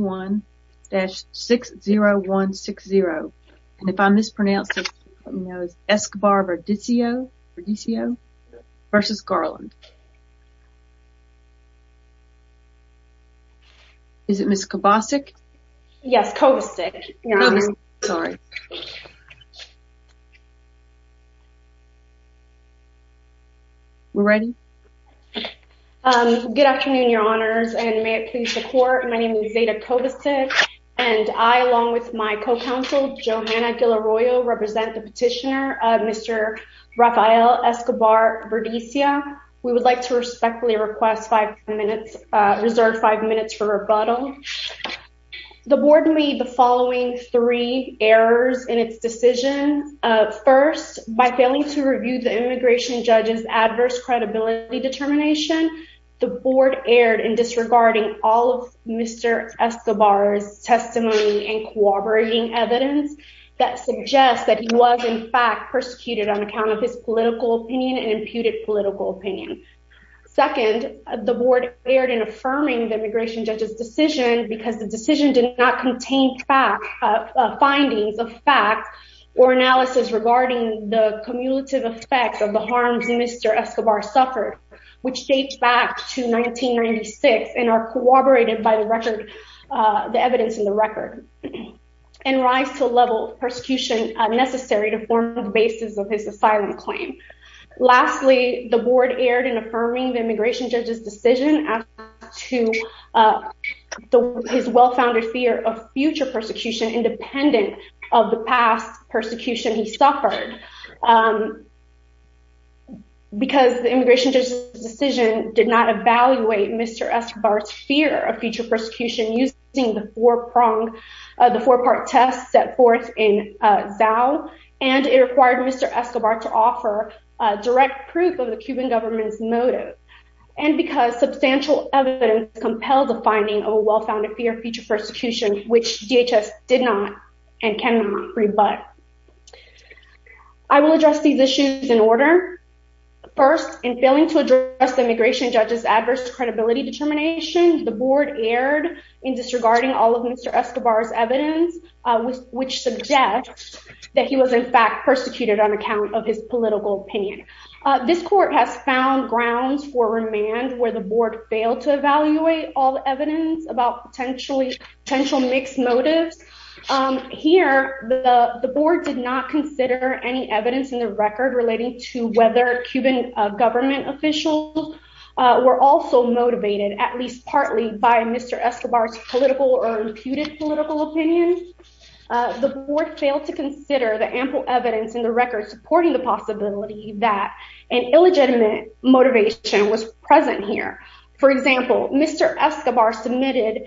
one dash six zero one six zero and if I mispronounced it Escobar-Verdecio Verdecio versus Garland. Is it Miss Kovacic? Yes Kovacic. Sorry. We're ready? Good afternoon your honors and may it please the court. My name is Zeta Kovacic and I along with my co-counsel Johanna Ghilarroyo represent the petitioner Mr. Rafael Escobar-Verdecia. We would like to respectfully request five minutes reserve five minutes for rebuttal. The board made the following three errors in its decision. First by failing to review the immigration judge's adverse credibility determination. The board erred in disregarding all of Mr. Escobar's testimony and corroborating evidence that suggests that he was in fact persecuted on account of his political opinion and imputed political opinion. Second the board erred in affirming the immigration judge's decision because the decision did not contain fact findings of facts or suffered which dates back to 1996 and are corroborated by the record the evidence in the record and rise to a level of persecution necessary to form the basis of his asylum claim. Lastly the board erred in affirming the immigration judge's decision as to his well-founded fear of future persecution independent of the past persecution he suffered because the immigration judge's decision did not evaluate Mr. Escobar's fear of future persecution using the four-pronged the four-part test set forth in Zao and it required Mr. Escobar to offer direct proof of the Cuban government's motive and because substantial evidence compelled the finding of a well-founded fear of future persecution which DHS did not and cannot rebut. I will address these issues in order. First in failing to address the immigration judge's adverse credibility determination the board erred in disregarding all of Mr. Escobar's evidence which suggests that he was in fact persecuted on account of his political opinion. This court has found grounds for remand where the board failed to evaluate all evidence about potential mixed motives. Here the board did not consider any evidence in the record relating to whether Cuban government officials were also motivated at least partly by Mr. Escobar's political or imputed political opinion. The board failed to consider the ample evidence in the record supporting the possibility that an illegitimate motivation was present here. For example Mr. Escobar submitted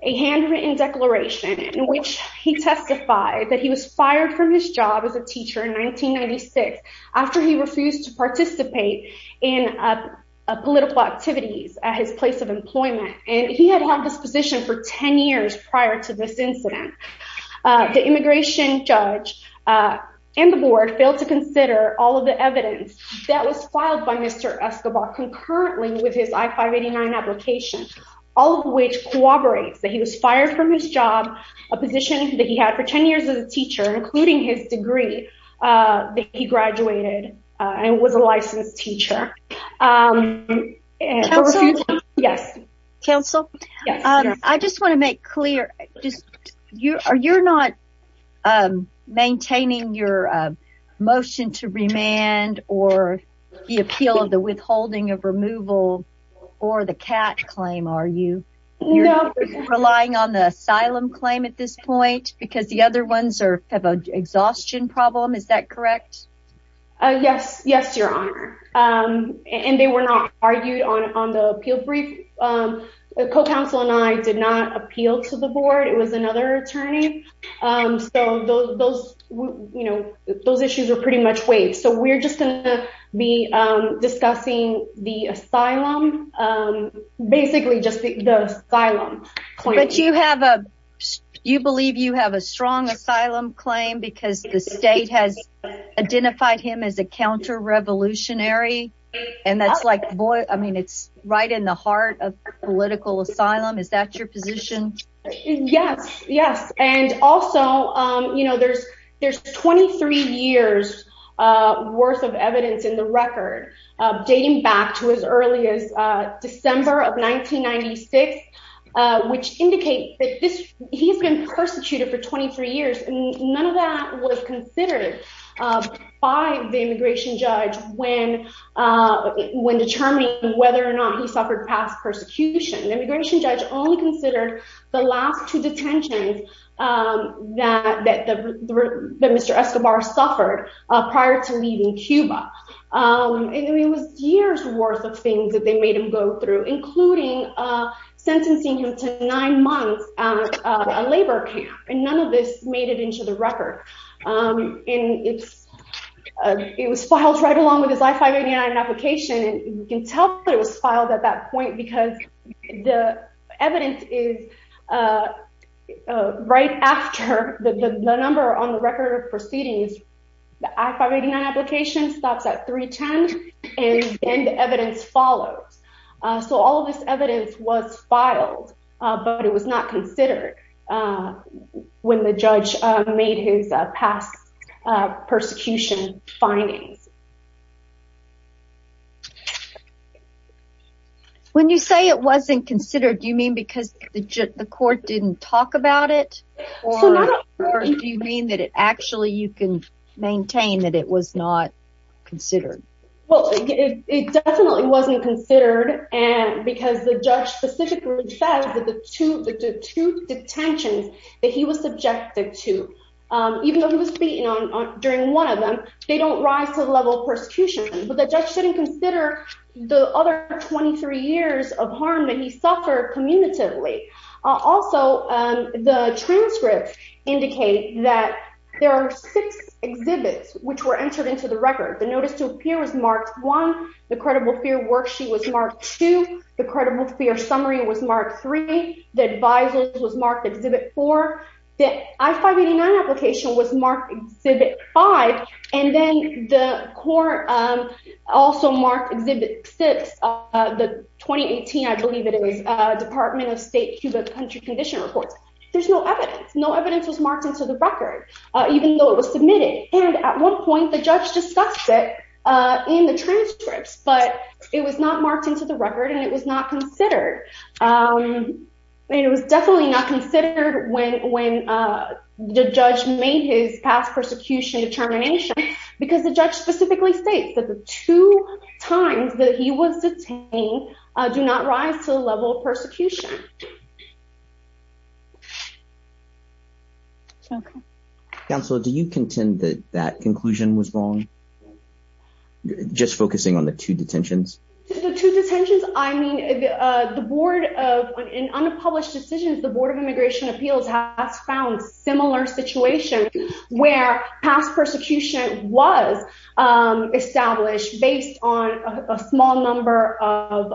a handwritten declaration in which he testified that he was fired from his job as a teacher in 1996 after he refused to participate in political activities at his place of employment and he had had this position for 10 years prior to this incident. The immigration judge and the board failed to consider all of the evidence that was filed by Mr. Escobar concurrently with his I-589 application, all of which corroborates that he was fired from his job, a position that he had for 10 years as a teacher including his degree that he graduated and was a licensed teacher. Council, I just want to make clear just you're not maintaining your motion to remand or the appeal of the withholding of removal or the CAT claim are you? You're relying on the asylum claim at this point because the other ones have an exhaustion problem, is that correct? Yes, yes your honor and they were not argued on the appeal brief. The co-counsel and I did not appeal to the much weight so we're just gonna be discussing the asylum basically just the asylum. But you have a you believe you have a strong asylum claim because the state has identified him as a counter-revolutionary and that's like boy I mean it's right in the heart of political asylum is that your position? Yes, yes and also you know there's there's 23 years worth of evidence in the record dating back to as early as December of 1996 which indicates that this he's been persecuted for 23 years and none of that was considered by the immigration judge when when determining whether or not he suffered past persecution. Immigration judge only considered the last two detentions that that Mr. Escobar suffered prior to leaving Cuba and it was years worth of things that they made him go through including sentencing him to nine months at a labor camp and none of this made it into the record and it's it was filed right along with his I-589 application and you can tell it was filed at that point because the evidence is right after the number on the record of proceedings the I-589 application stops at 310 and then the evidence follows so all this evidence was filed but it was not considered when the judge made his past persecution findings. When you say it wasn't considered do you mean because the court didn't talk about it or do you mean that it actually you can maintain that it was not considered? Well it definitely wasn't considered and because the judge specifically said that the two the two detentions that he was subjected to even though he was beaten on during one of them they don't rise to the level of persecution but the judge didn't consider the other 23 years of harm that he suffered commutatively. Also the transcripts indicate that there are six exhibits which were entered into the record. The notice to appear was marked one, the credible fear worksheet was marked two, the credible fear summary was marked three, the advisers was marked exhibit four, the I-589 application was marked exhibit five and then the court also marked exhibit six of the 2018 I believe it was Department of State to the country condition reports. There's no evidence no evidence was marked into the record even though it was submitted and at one point the judge discussed it in the transcripts but it was not marked into the record and it was not considered. It was definitely not considered when when the judge made his past persecution determination because the judge specifically states that the two times that he was detained do not rise to the level of persecution. Counselor do you contend that that detentions I mean the board of in unpublished decisions the Board of Immigration Appeals has found similar situations where past persecution was established based on a small number of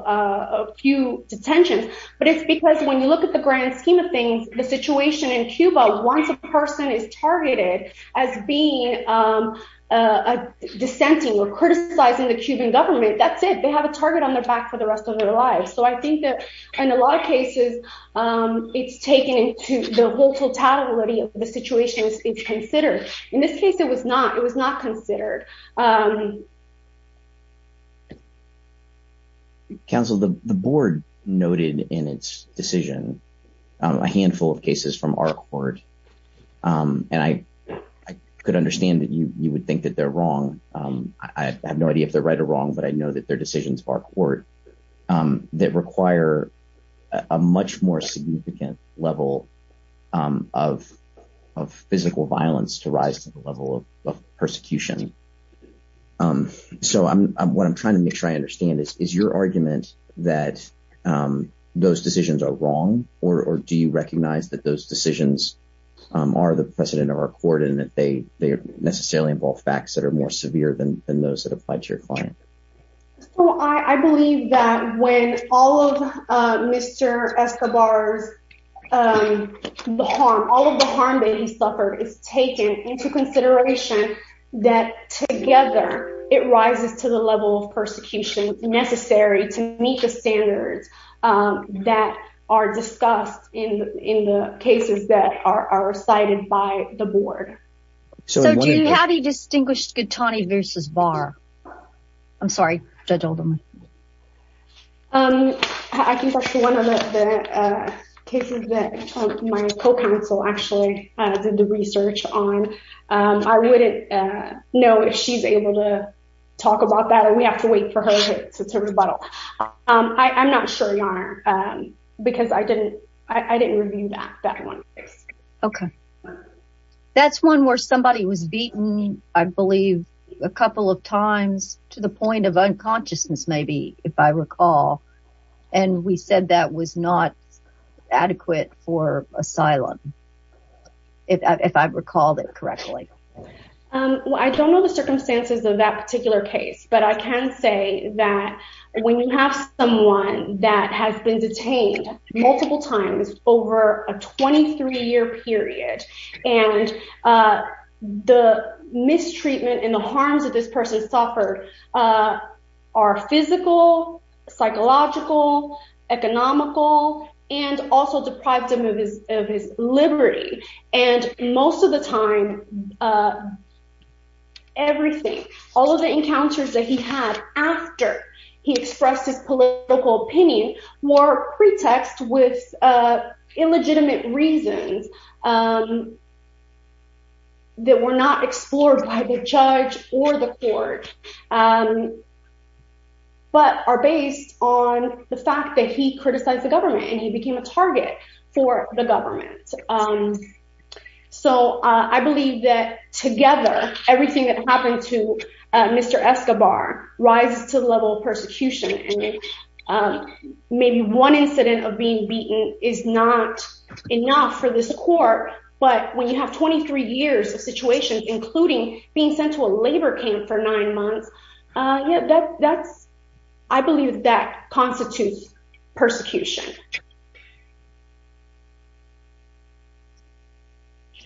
a few detentions but it's because when you look at the grand scheme of things the situation in Cuba once a person is targeted as being a dissenting or criticizing the Cuban government that's they have a target on their back for the rest of their lives so I think that in a lot of cases it's taken into the whole totality of the situation is considered in this case it was not it was not considered. Counsel the board noted in its decision a handful of cases from our court and I could understand that you would think that they're wrong I have no idea if they're right or wrong but I think that they're wrong and I'm trying to make sure that I understand is your argument that those decisions are wrong or do you recognize that those decisions are the precedent of our court and that they they necessarily involve facts that are more severe than those that apply to your client? I believe that when all of Mr. Escobar's the harm all of the harm that he suffered is taken into consideration that together it rises to the level of persecution necessary to meet the standards that are discussed in in the cases that are cited by the board. So do you have a distinguished Gattani versus VAR? I'm sorry judge Oldham. I think that's one of the cases that my co-counsel actually did the research on. I wouldn't know if she's able to talk about that and we have to wait for her to rebuttal. I'm not sure because I didn't I didn't review that that one. Okay that's one where somebody was beaten I believe a couple of times to the point of unconsciousness maybe if I recall and we said that was not adequate for asylum if I recalled it correctly. I don't know the circumstances of that particular case but I can say that when you have someone that has been detained multiple times over a 23 year period and the mistreatment and the harms of this person suffered are physical, psychological, economical, and also deprived him of his of his liberty and most of the time everything all of the encounters that he had after he was detained were not explored by the judge or the court but are based on the fact that he criticized the government and he became a target for the government. So I believe that together everything that happened to Mr. Escobar rises to the level of persecution. Maybe one incident of being beaten is not enough for this court but when you have 23 years of situation including being sent to a labor camp for nine months yeah that's I believe that constitutes persecution.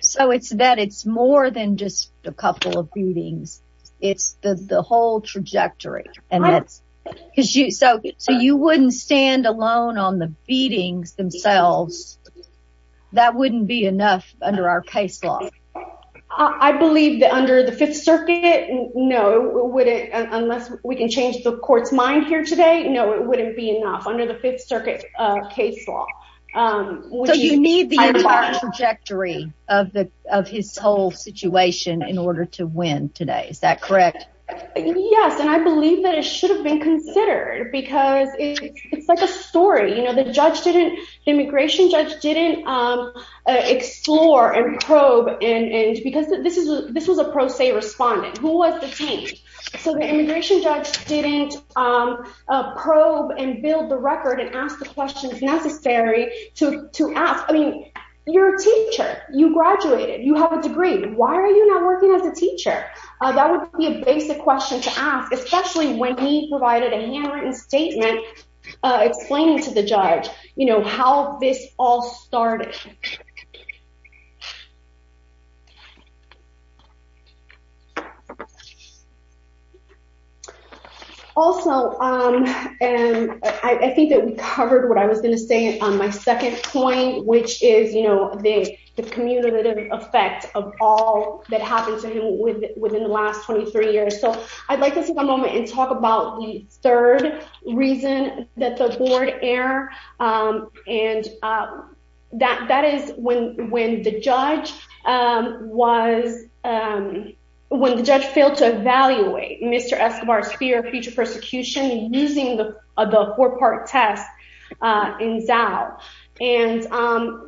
So it's that it's more than just a couple of beatings it's the whole trajectory and that's because you so so you wouldn't stand alone on the beatings themselves that wouldn't be enough under our case law. I believe that under the Fifth Circuit no wouldn't unless we can change the court's mind here today no it wouldn't be enough under the Fifth Circuit case law. So you need the entire trajectory of the of his whole situation in order to win today is that correct? Yes and I believe that it should have been considered because it's like a story you know the judge didn't immigration judge didn't explore and probe and because this is this was a pro se respondent who was detained so the immigration judge didn't probe and build the record and ask the questions necessary to to ask I mean you're a teacher you graduated you have a degree why are you not working as a teacher that would be a basic question to ask especially when we provided a handwritten statement explaining to the judge you know how this all started also and I think that we covered what I was going to say on my second point which is you know the the commutative effect of all that happened to him with within the last 23 years so I'd like to take a moment and talk about the third reason that the board error and that that is when when the judge was when the judge failed to evaluate Mr. Escobar's fear of future persecution using the four-part test in Zao and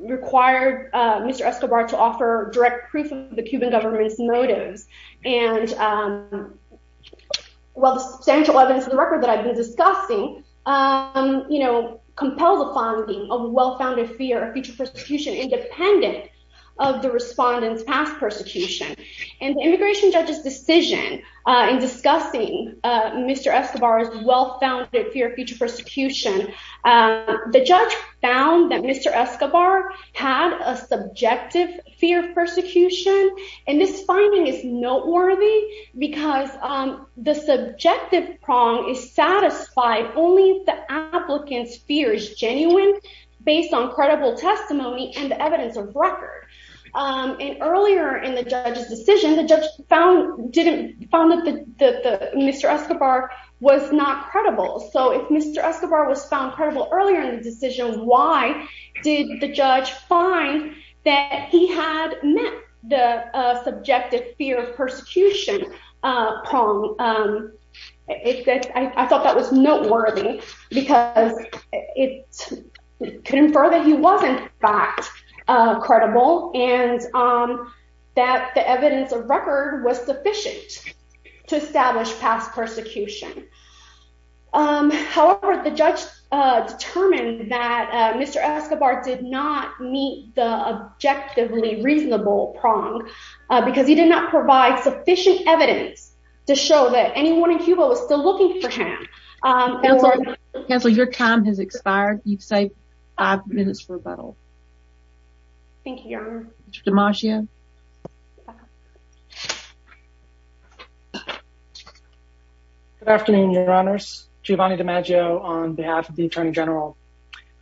required Mr. Escobar to offer direct proof of the well the substantial evidence of the record that I've been discussing you know compel the funding of well-founded fear of future persecution independent of the respondents past persecution and immigration judges decision in discussing Mr. Escobar's well-founded fear of future persecution the judge found that Mr. Escobar had a subjective fear of persecution and this finding is noteworthy because the subjective prong is satisfied only the applicants fears genuine based on credible testimony and evidence of record and earlier in the judge's decision the judge found didn't found that the mr. Escobar was not credible so if mr. Escobar was found credible earlier in the decision why did the judge find that he had met the subjective fear of persecution prong it's that I thought that was noteworthy because it could infer that he wasn't backed credible and that the evidence of record was sufficient to establish past however the judge determined that mr. Escobar did not meet the objectively reasonable prong because he did not provide sufficient evidence to show that anyone in Cuba was still looking for him and so your time has expired you've good afternoon your honors Giovanni DiMaggio on behalf of the Attorney General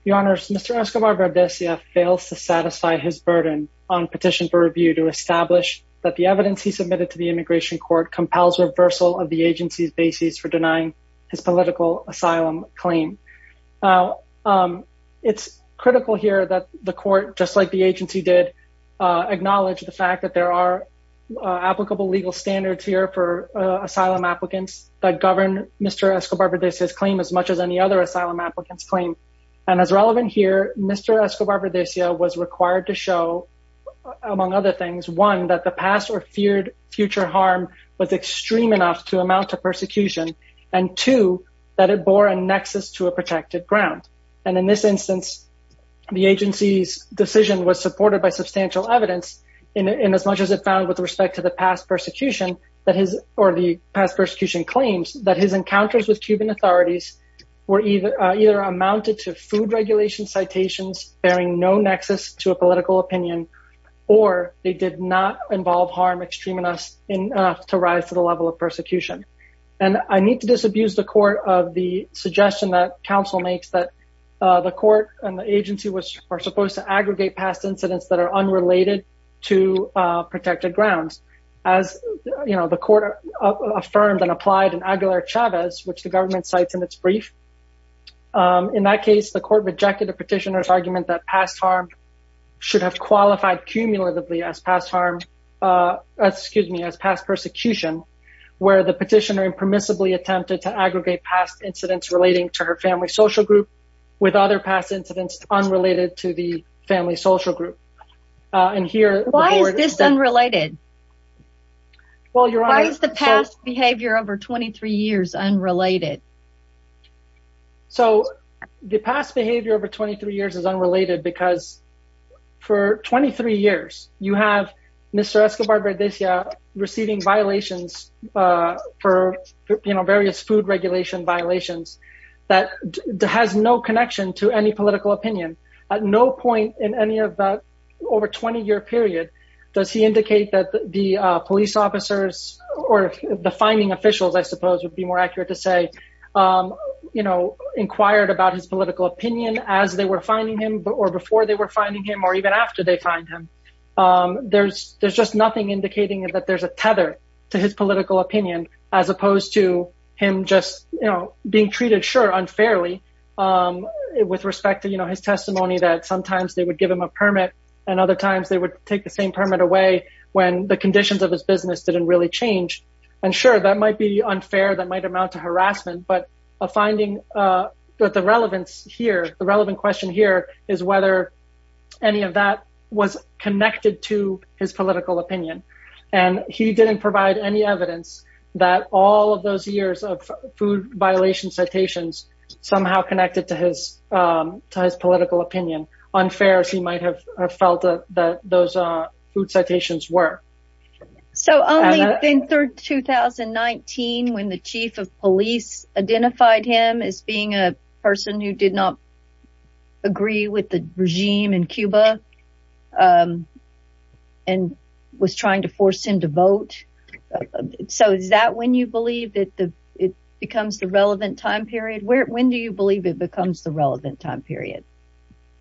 your honors mr. Escobar Bardessia fails to satisfy his burden on petition for review to establish that the evidence he submitted to the immigration court compels reversal of the agency's basis for denying his political asylum claim it's critical here that the court just like the agency did acknowledge the fact that there are applicable legal standards here for asylum applicants that govern mr. Escobar Bardessia's claim as much as any other asylum applicants claim and as relevant here mr. Escobar Bardessia was required to show among other things one that the past or feared future harm was extreme enough to amount to persecution and two that it bore a nexus to a substantial evidence in as much as it found with respect to the past persecution that his or the past persecution claims that his encounters with Cuban authorities were either either amounted to food regulation citations bearing no nexus to a political opinion or they did not involve harm extreme enough enough to rise to the level of persecution and I need to disabuse the court of the suggestion that counsel makes that the court and aggregate past incidents that are unrelated to protected grounds as you know the court affirmed and applied in Aguilar Chavez which the government cites in its brief in that case the court rejected the petitioners argument that past harm should have qualified cumulatively as past harm excuse me as past persecution where the petitioner impermissibly attempted to aggregate past incidents relating to her family social group with other past incidents unrelated to the family social group and here why is this unrelated well your eyes the past behavior over 23 years unrelated so the past behavior over 23 years is unrelated because for 23 years you have mr. Escobar Berdesia receiving violations for you know various food regulation violations that has no connection to any political opinion at no point in any of that over 20 year period does he indicate that the police officers or the finding officials I suppose would be more accurate to say you know inquired about his political opinion as they were finding him but or before they were finding him or even after they find him there's there's just nothing indicating that there's a tether to his political opinion as opposed to him just you know treated sure unfairly with respect to you know his testimony that sometimes they would give him a permit and other times they would take the same permit away when the conditions of his business didn't really change and sure that might be unfair that might amount to harassment but a finding that the relevance here the relevant question here is whether any of that was connected to his political opinion and he didn't provide any evidence that all of those years of food violation citations somehow connected to his political opinion unfair as he might have felt that those are food citations were. So only in 2019 when the chief of police identified him as being a person who did not agree with the regime in Cuba and was trying to force him to vote so is that when you believe that the it becomes the relevant time period where when do you believe it becomes the relevant time period?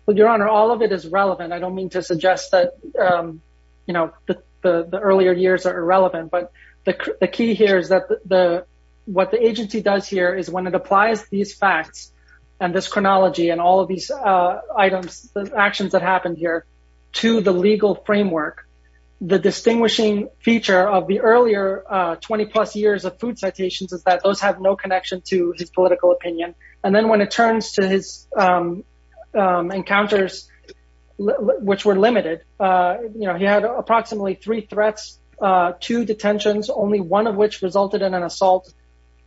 Well your honor all of it is relevant I don't mean to suggest that you know the earlier years are irrelevant but the key here is that the what the agency does here is when it applies these facts and this chronology and all of these items the actions that happened here to the legal framework the distinguishing feature of the earlier 20 plus years of food citations is that those have no connection to his political opinion and then when it turns to his encounters which were limited you know he had approximately three threats two detentions only one of which resulted in an assault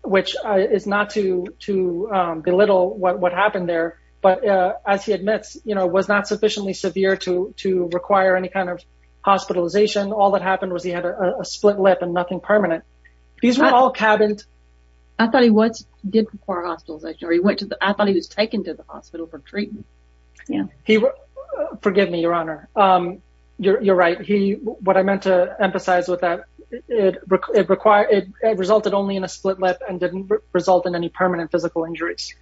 which is not to to belittle what happened there but as he was not severely injured or severely severe to to require any kind of hospitalization all that happened was he had a split lip and nothing permanent these were all cabins. I thought he was did require hospitalization or he went to the I thought he was taken to the hospital for treatment. Yeah he forgive me your honor you're right he what I meant to emphasize with that it required it resulted only in a split lip and didn't result in any permanent physical injuries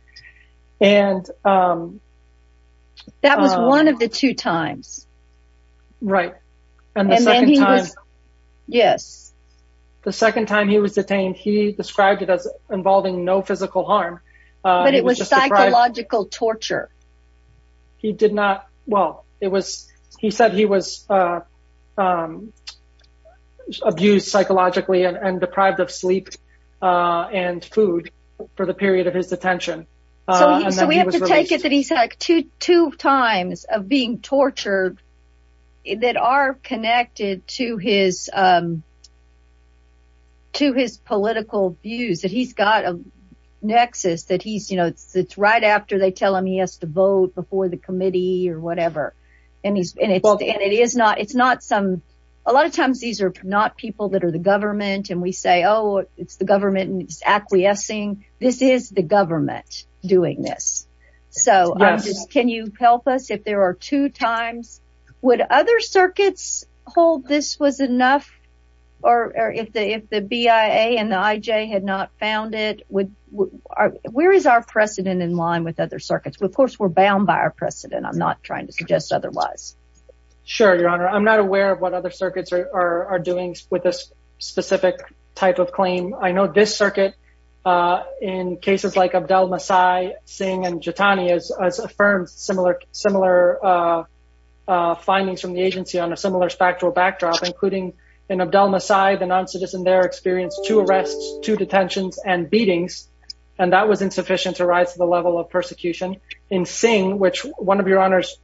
and that was one of the two times right and yes the second time he was detained he described it as involving no physical harm but it was psychological torture he did not well it was he said he was abused psychologically and deprived of sleep and food for the period of his detention. So we have to take it that he's had two times of being tortured that are connected to his to his political views that he's got a nexus that he's you know it's right after they tell him he has to vote before the committee or whatever and he's and it's and it is not it's not some a lot of times these are not people that are the government and we say oh it's the government and it's acquiescing this is the government doing this so can you help us if there are two times would other circuits hold this was enough or if the if the BIA and the IJ had not found it would where is our precedent in line with other circuits of course we're bound by our precedent I'm not trying to suggest otherwise. Sure your honor I'm not aware of what other circuits are doing with this specific type of claim I know this circuit in cases like Abdel Masai, Singh and Jitani has affirmed similar similar findings from the agency on a similar spectral backdrop including in Abdel Masai the non-citizen there experienced two arrests two detentions and beatings and that was insufficient to rise to the level of persecution. In Singh which one of your honors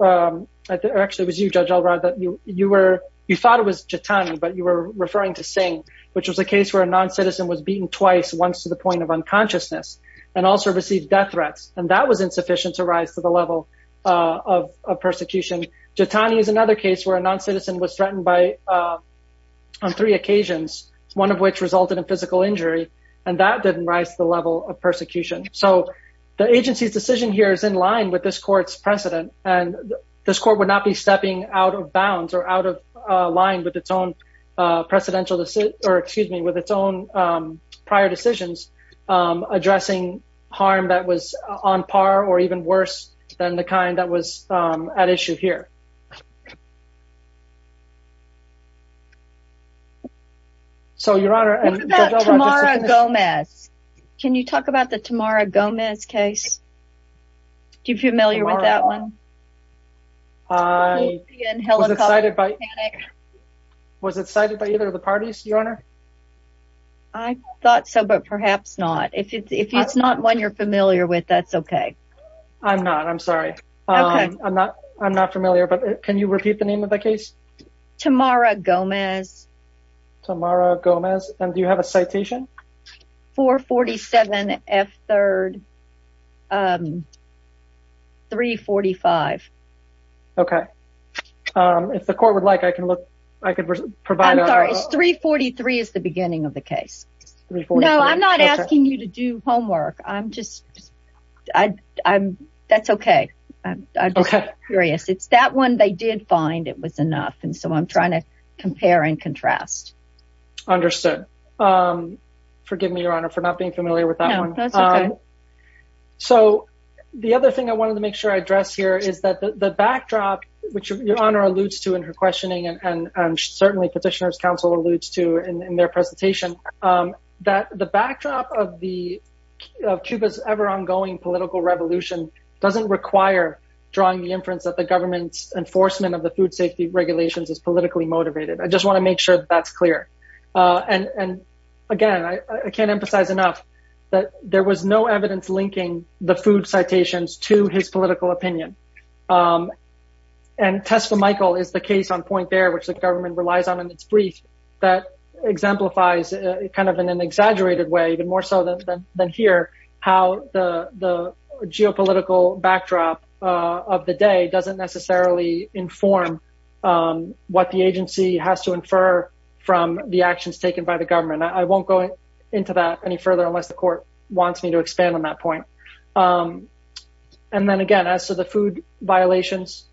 actually was you judge I'll rather that you you were you thought it was Jitani but you were referring to Singh which was a case where a non-citizen was beaten twice once to the point of unconsciousness and also received death threats and that was insufficient to rise to the level of persecution. Jitani is another case where a non-citizen was threatened by on three occasions one of which resulted in physical injury and that didn't rise to the level of persecution so the agency's decision here is in line with this court would not be stepping out of bounds or out of line with its own precedential to sit or excuse me with its own prior decisions addressing harm that was on par or even worse than the kind that was at issue here. So your honor I thought so but perhaps not if it's not one you're familiar with that's okay. I'm not I'm sorry I'm not I'm not familiar but can you repeat the name of the case? Tamara Gomez. Tamara Gomez and do you have a citation? 447 F 3rd 345. Okay if the court would like I can look I could provide. I'm sorry 343 is the beginning of the case. No I'm not asking you to do homework I'm just I I'm that's okay I'm curious it's that one they did find it was enough and so I'm trying to compare and contrast. Understood forgive me your honor for not being familiar with that one. So the other thing I wanted to make sure I address here is that the backdrop which your honor alludes to in her questioning and certainly Petitioners Council alludes to in their presentation that the backdrop of the of Cuba's ever-ongoing political revolution doesn't require drawing the inference that the government's enforcement of the food safety regulations is politically motivated. I just want to make sure that that's clear and and again I can't emphasize enough that there was no evidence linking the food citations to his political opinion and Tesfa Michael is the case on point there which the government relies on in its brief that exemplifies kind of in an exaggerated way even more so than here how the the what the agency has to infer from the actions taken by the government. I won't go into that any further unless the court wants me to expand on that point and then again as to the food violations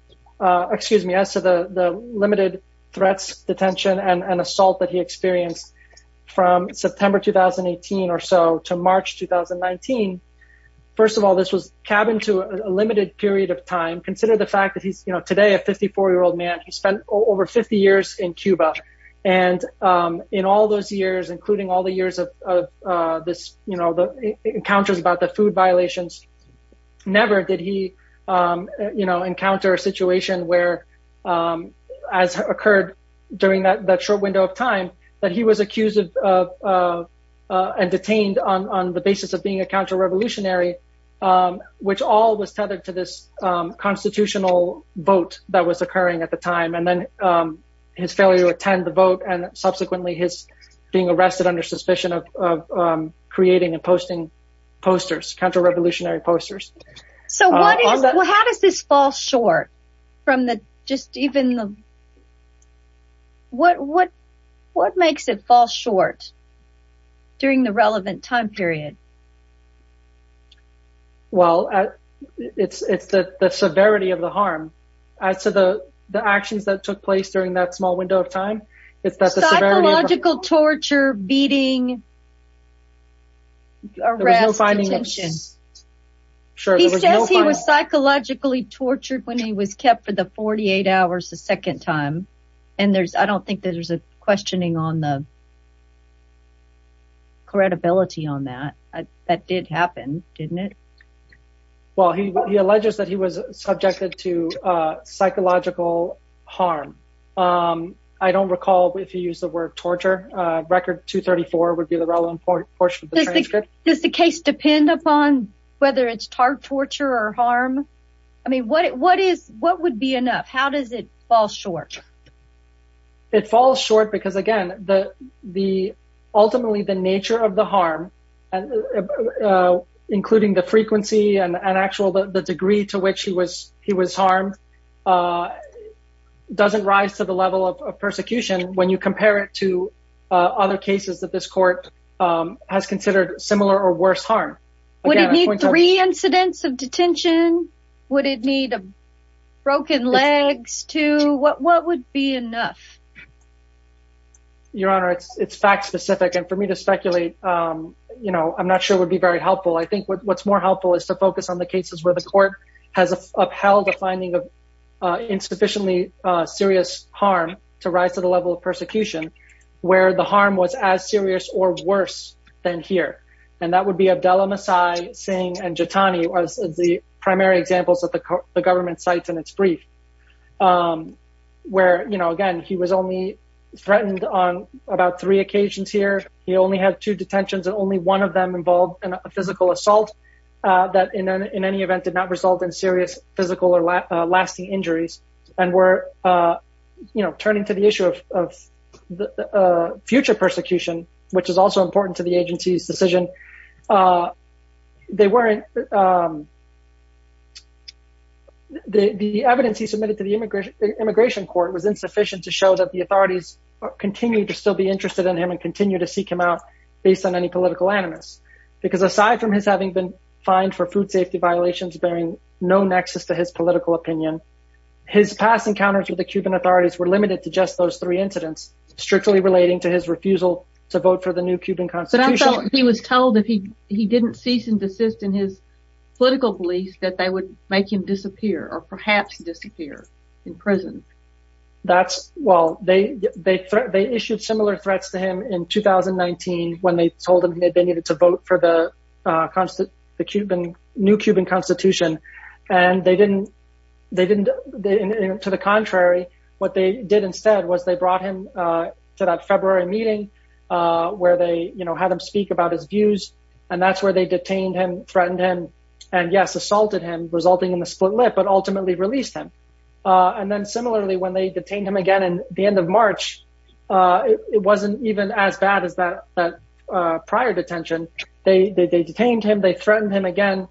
excuse me as to the the limited threats detention and an assault that he experienced from September 2018 or so to March 2019 first of all this was cab into a limited period of time consider the fact that he's you know today a 54 year old man who spent over 50 years in Cuba and in all those years including all the years of this you know the encounters about the food violations never did he you know encounter a situation where as occurred during that that short window of time that he was accused of and detained on the basis of being a counter-revolutionary which all was tethered to this constitutional vote that was occurring at the time and then his failure to attend the vote and subsequently his being arrested under suspicion of creating and posting posters counter-revolutionary posters so how does this fall short from the just even the what what what makes it fall short during the relevant time period well it's it's that the severity of the harm I said the the actions that took place during that small window of time it's that the psychological torture beating he was psychologically tortured when he was kept for the 48 hours the second time and there's I don't think there's a questioning on the credibility on that that did happen didn't it well he alleges that he was subjected to psychological harm I don't recall if you use the word torture record 234 would be the relevant portion of the transcript does the case depend upon whether it's torture or harm I mean what it what is what would be enough how does it fall short it falls short because again the the ultimately the nature of the harm and including the frequency and an actual the degree to which he was he was harmed doesn't rise to the level of persecution when you compare it to other cases that this court has considered similar or worse harm three incidents of what would be enough your honor it's it's fact-specific and for me to speculate you know I'm not sure would be very helpful I think what's more helpful is to focus on the cases where the court has upheld a finding of insufficiently serious harm to rise to the level of persecution where the harm was as serious or worse than here and that would be Abdullah Masai saying and where you know again he was only threatened on about three occasions here he only had two detentions and only one of them involved in a physical assault that in any event did not result in serious physical or lasting injuries and we're you know turning to the issue of the future persecution which is also important to the agency's decision they weren't the evidence he submitted to the immigration immigration court was insufficient to show that the authorities continue to still be interested in him and continue to seek him out based on any political animus because aside from his having been fined for food safety violations bearing no nexus to his political opinion his past encounters with the Cuban authorities were limited to just those three incidents strictly relating to his refusal to vote for the new Cuban Constitution he was told if he he didn't cease and desist in his political beliefs that they would make him disappear or perhaps disappear in prison that's well they they they issued similar threats to him in 2019 when they told him that they needed to vote for the constant the Cuban new Cuban Constitution and they didn't they didn't to the contrary what they did instead was they brought him to that February meeting where they you know had him speak about his views and that's where they detained him threatened him and yes assaulted him resulting in the split lip but ultimately released him and then similarly when they detained him again and the end of March it wasn't even as bad as that prior detention they they detained him they threatened him again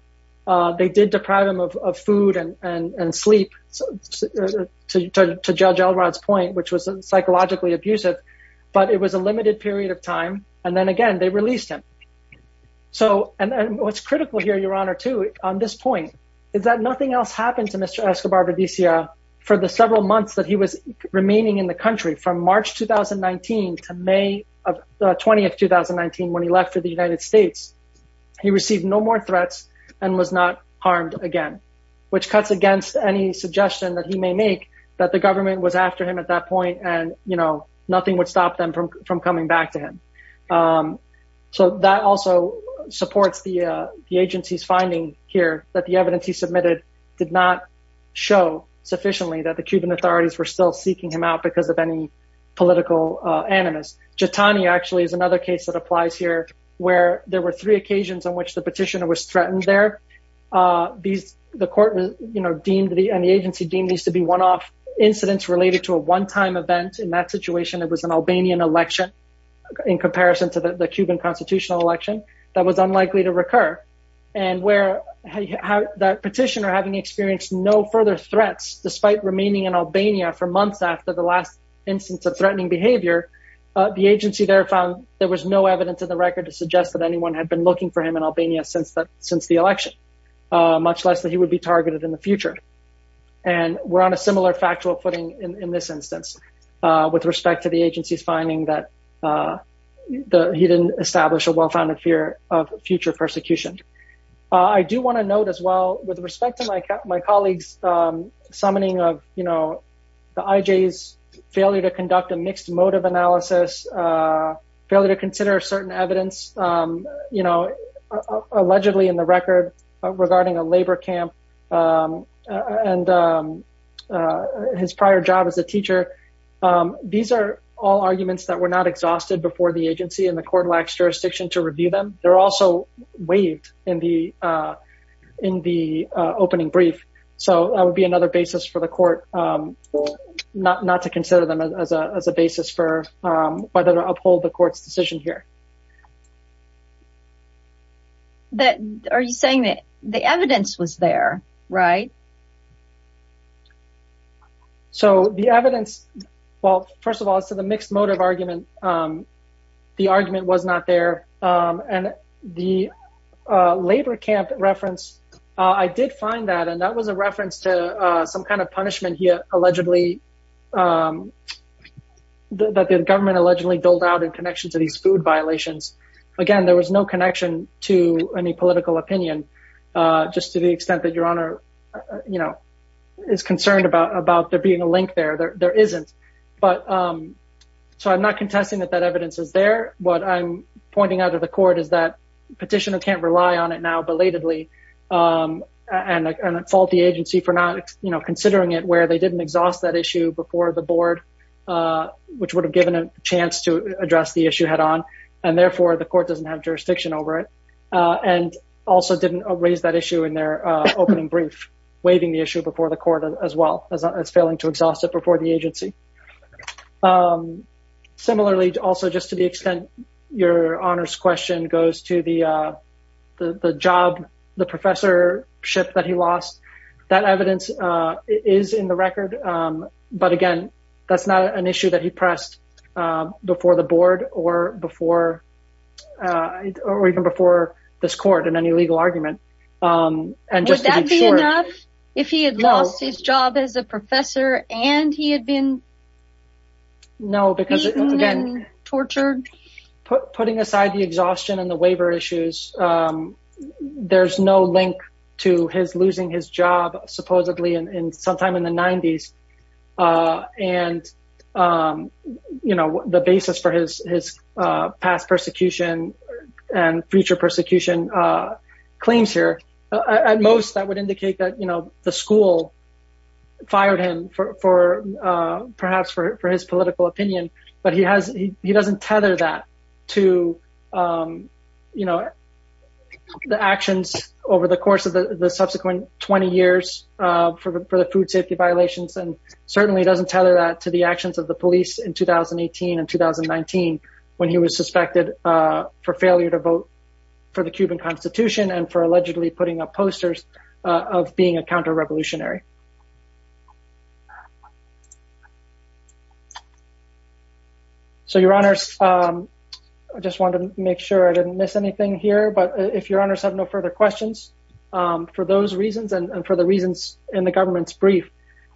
they did deprive him of food and and sleep so to judge Elrod's point which was psychologically abusive but it was a limited period of time and then again they released him so and what's nothing else happened to Mr. Escobar Verdecia for the several months that he was remaining in the country from March 2019 to May of 20th 2019 when he left for the United States he received no more threats and was not harmed again which cuts against any suggestion that he may make that the government was after him at that point and you know nothing would stop them from from coming back to him so that also supports the agency's finding here that the evidence he submitted did not show sufficiently that the Cuban authorities were still seeking him out because of any political animus Jitani actually is another case that applies here where there were three occasions on which the petitioner was threatened there these the court was you know deemed the and the agency deemed these to be one-off incidents related to a one-time event in that situation it was an Albanian election in comparison to the Cuban constitutional election that was unlikely to recur and where that petitioner having experienced no further threats despite remaining in Albania for months after the last instance of threatening behavior the agency there found there was no evidence in the record to suggest that anyone had been looking for him in Albania since that since the election much less that he would be targeted in the future and we're on a similar factual footing in this instance with respect to the fear of future persecution I do want to note as well with respect to like my colleagues summoning of you know the IJ's failure to conduct a mixed motive analysis failure to consider certain evidence you know allegedly in the record regarding a labor camp and his prior job as a teacher these are all arguments that were not exhausted before the agency and the court lacks jurisdiction to review them they're also waived in the in the opening brief so that would be another basis for the court not not to consider them as a basis for whether to uphold the court's decision here that are you saying that the evidence was there right so the evidence well first of all so the mixed motive argument the argument was not there and the labor camp reference I did find that and that was a reference to some kind of punishment here allegedly that the government allegedly built out in connection to these food violations again there was no connection to any political opinion just to the extent that your honor you know is concerned about about there being a link there there isn't but so I'm not contesting that that evidence is there what I'm pointing out of the court is that petitioner can't rely on it now belatedly and it's all the agency for not you know considering it where they didn't exhaust that issue before the board which would have given a chance to address the issue head-on and therefore the court doesn't have jurisdiction over it and also didn't raise that issue in their opening brief waiving the issue before the court as well as failing to exhaust it before the agency similarly to also just to the extent your honors question goes to the the job the professorship that he lost that evidence is in the record but again that's not an issue that he pressed before the board or before or even before this court in his job as a professor and he had been no because again tortured putting aside the exhaustion and the waiver issues there's no link to his losing his job supposedly and sometime in the 90s and you know the basis for his past persecution and future persecution claims here at most that would indicate that you know the school fired him for perhaps for his political opinion but he has he doesn't tether that to you know the actions over the course of the subsequent 20 years for the food safety violations and certainly doesn't tether that to the actions of the police in 2018 and 2019 when he was suspected for failure to vote for the Cuban Constitution and for allegedly putting up posters of being a counter-revolutionary so your honors I just want to make sure I didn't miss anything here but if your honors have no further questions for those reasons and for the reasons in the government's brief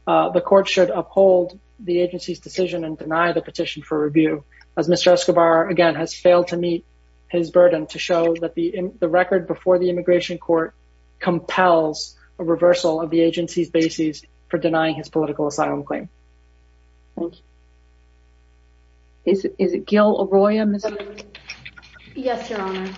the court should uphold the agency's decision and deny the petition for review as mr. Escobar again has failed to meet his burden to show that the record before the immigration court compels a reversal of the agency's bases for denying his political asylum claim is it Gil Arroyo? Yes your honor.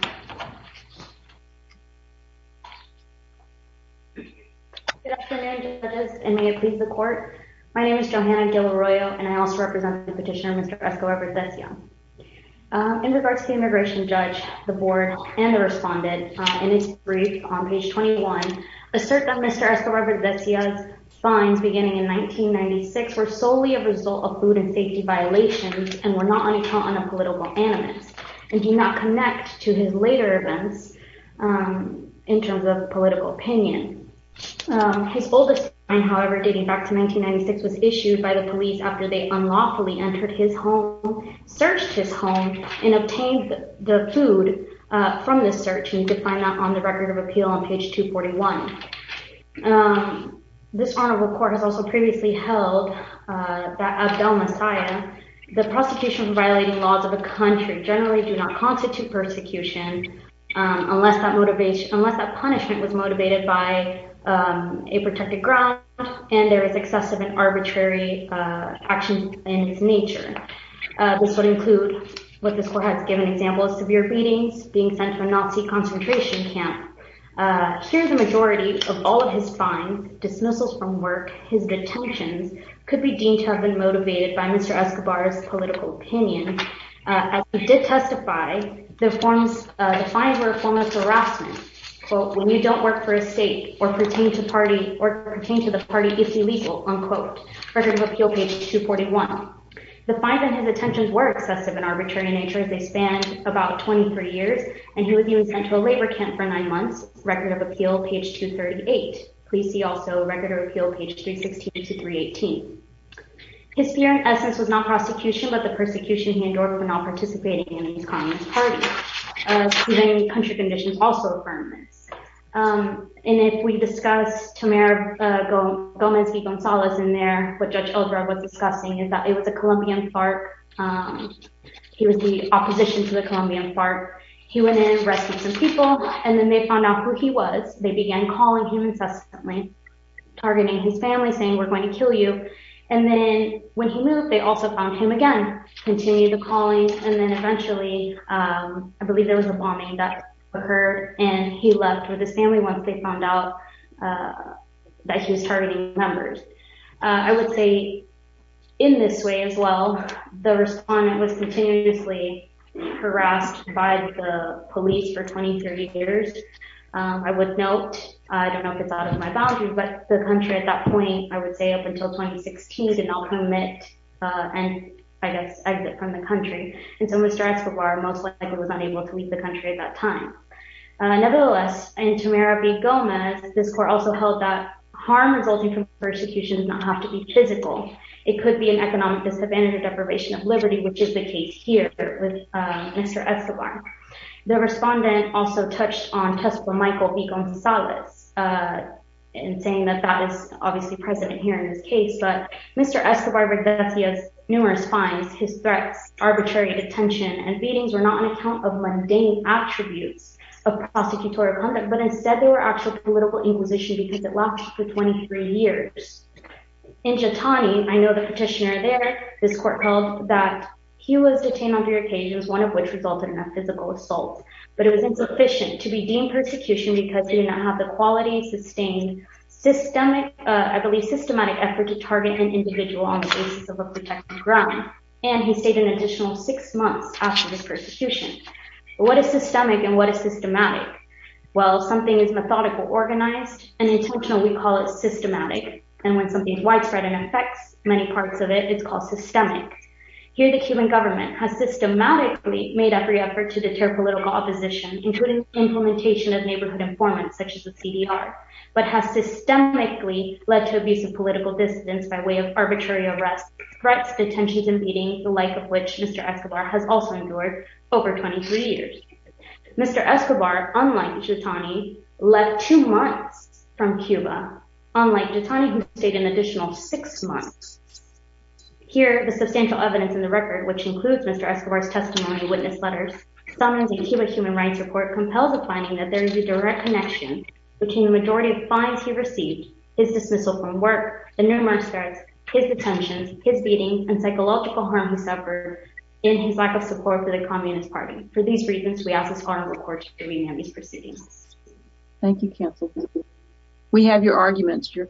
Good afternoon judges and may it please the court. My name is Johanna Gil Arroyo and I also represent the petitioner Mr. Escobar Bertezia. In regards to the immigration judge the board and the respondent in his brief on page 21 assert that Mr. Escobar Bertezia's fines beginning in 1996 were solely a result of food and safety violations and were not on account on a political animus and do not connect to his later events in terms of political opinion. His oldest fine however dating back to 1996 was issued by the police after they unlawfully entered his home searched his home and obtained the food from this search and could find that on the record of appeal on page 241. This honorable court has also previously held that Abdel Messiah the prosecution for violating laws of a country generally do not constitute persecution unless that motivation unless that punishment was motivated by a protected ground and there is excessive and arbitrary action in its nature. This would include what this court has given example of severe beatings being sent to a Nazi concentration camp. Here the majority of all of his fines dismissals from work his detentions could be deemed to have been motivated by Mr. Escobar's political opinion. As he did testify the fines were a form of harassment. When you don't work for a state or pertain to the party it's illegal unquote. Record of appeal page 241. The fine and his detentions were excessive and arbitrary in nature as they spanned about 23 years and he would be sent to a labor camp for nine months record of appeal page 238. Please see also record of appeal page 316 to 318. His fear in essence was not prosecution but the persecution he endured for not participating in these communist parties. Even country conditions also affirmance. And if we discuss Tamir Gomez Gonzalez in there what Judge Eldred was discussing is that it was a Colombian FARC. He was the opposition to the Colombian FARC. He went in and rescued some people and then they found out who he was. They began calling him incessantly targeting his family saying we're going to kill you and then when he moved they also found him again. Continued the calling and then eventually I believe there was a bombing that occurred and he left with his family once they found out that he was targeting members. I would say in this way as well the respondent was continuously harassed by the police for 20-30 years. I would note I don't know if it's out of my boundaries but the country at that point I would say up and I guess exit from the country and so Mr. Escobar most likely was unable to leave the country at that time. Nevertheless in Tamir B. Gomez this court also held that harm resulting from persecution does not have to be physical. It could be an economic disadvantage or deprivation of liberty which is the case here with Mr. Escobar. The respondent also touched on Tesla Michael E. Gonzalez in saying that that is obviously present here in this case but Mr. Escobar does he has numerous fines, his threats, arbitrary detention and beatings were not an account of mundane attributes of prosecutorial conduct but instead they were actual political inquisition because it lasted for 23 years. In Jitani, I know the petitioner there, this court held that he was detained on three occasions one of which resulted in a physical assault but it was insufficient to be deemed persecution because he did not have the quality, sustained, systemic, I and he stayed an additional six months after his persecution. What is systemic and what is systematic? Well something is methodical, organized and intentional we call it systematic and when something's widespread and affects many parts of it it's called systemic. Here the Cuban government has systematically made every effort to deter political opposition including implementation of neighborhood informants such as the CDR but has systemically led to abuse of threats, detentions and beatings the like of which Mr. Escobar has also endured over 23 years. Mr. Escobar, unlike Jitani, left two months from Cuba unlike Jitani who stayed an additional six months. Here the substantial evidence in the record which includes Mr. Escobar's testimony, witness letters, summons a Cuban human rights report compels a finding that there is a direct connection between the majority of fines he received, his dismissal from work, the numerous threats, his detentions, his beatings and psychological harm he suffered in his lack of support for the Communist Party. For these reasons we ask this honorable court to review his proceedings. Thank you counsel. We have your arguments. Your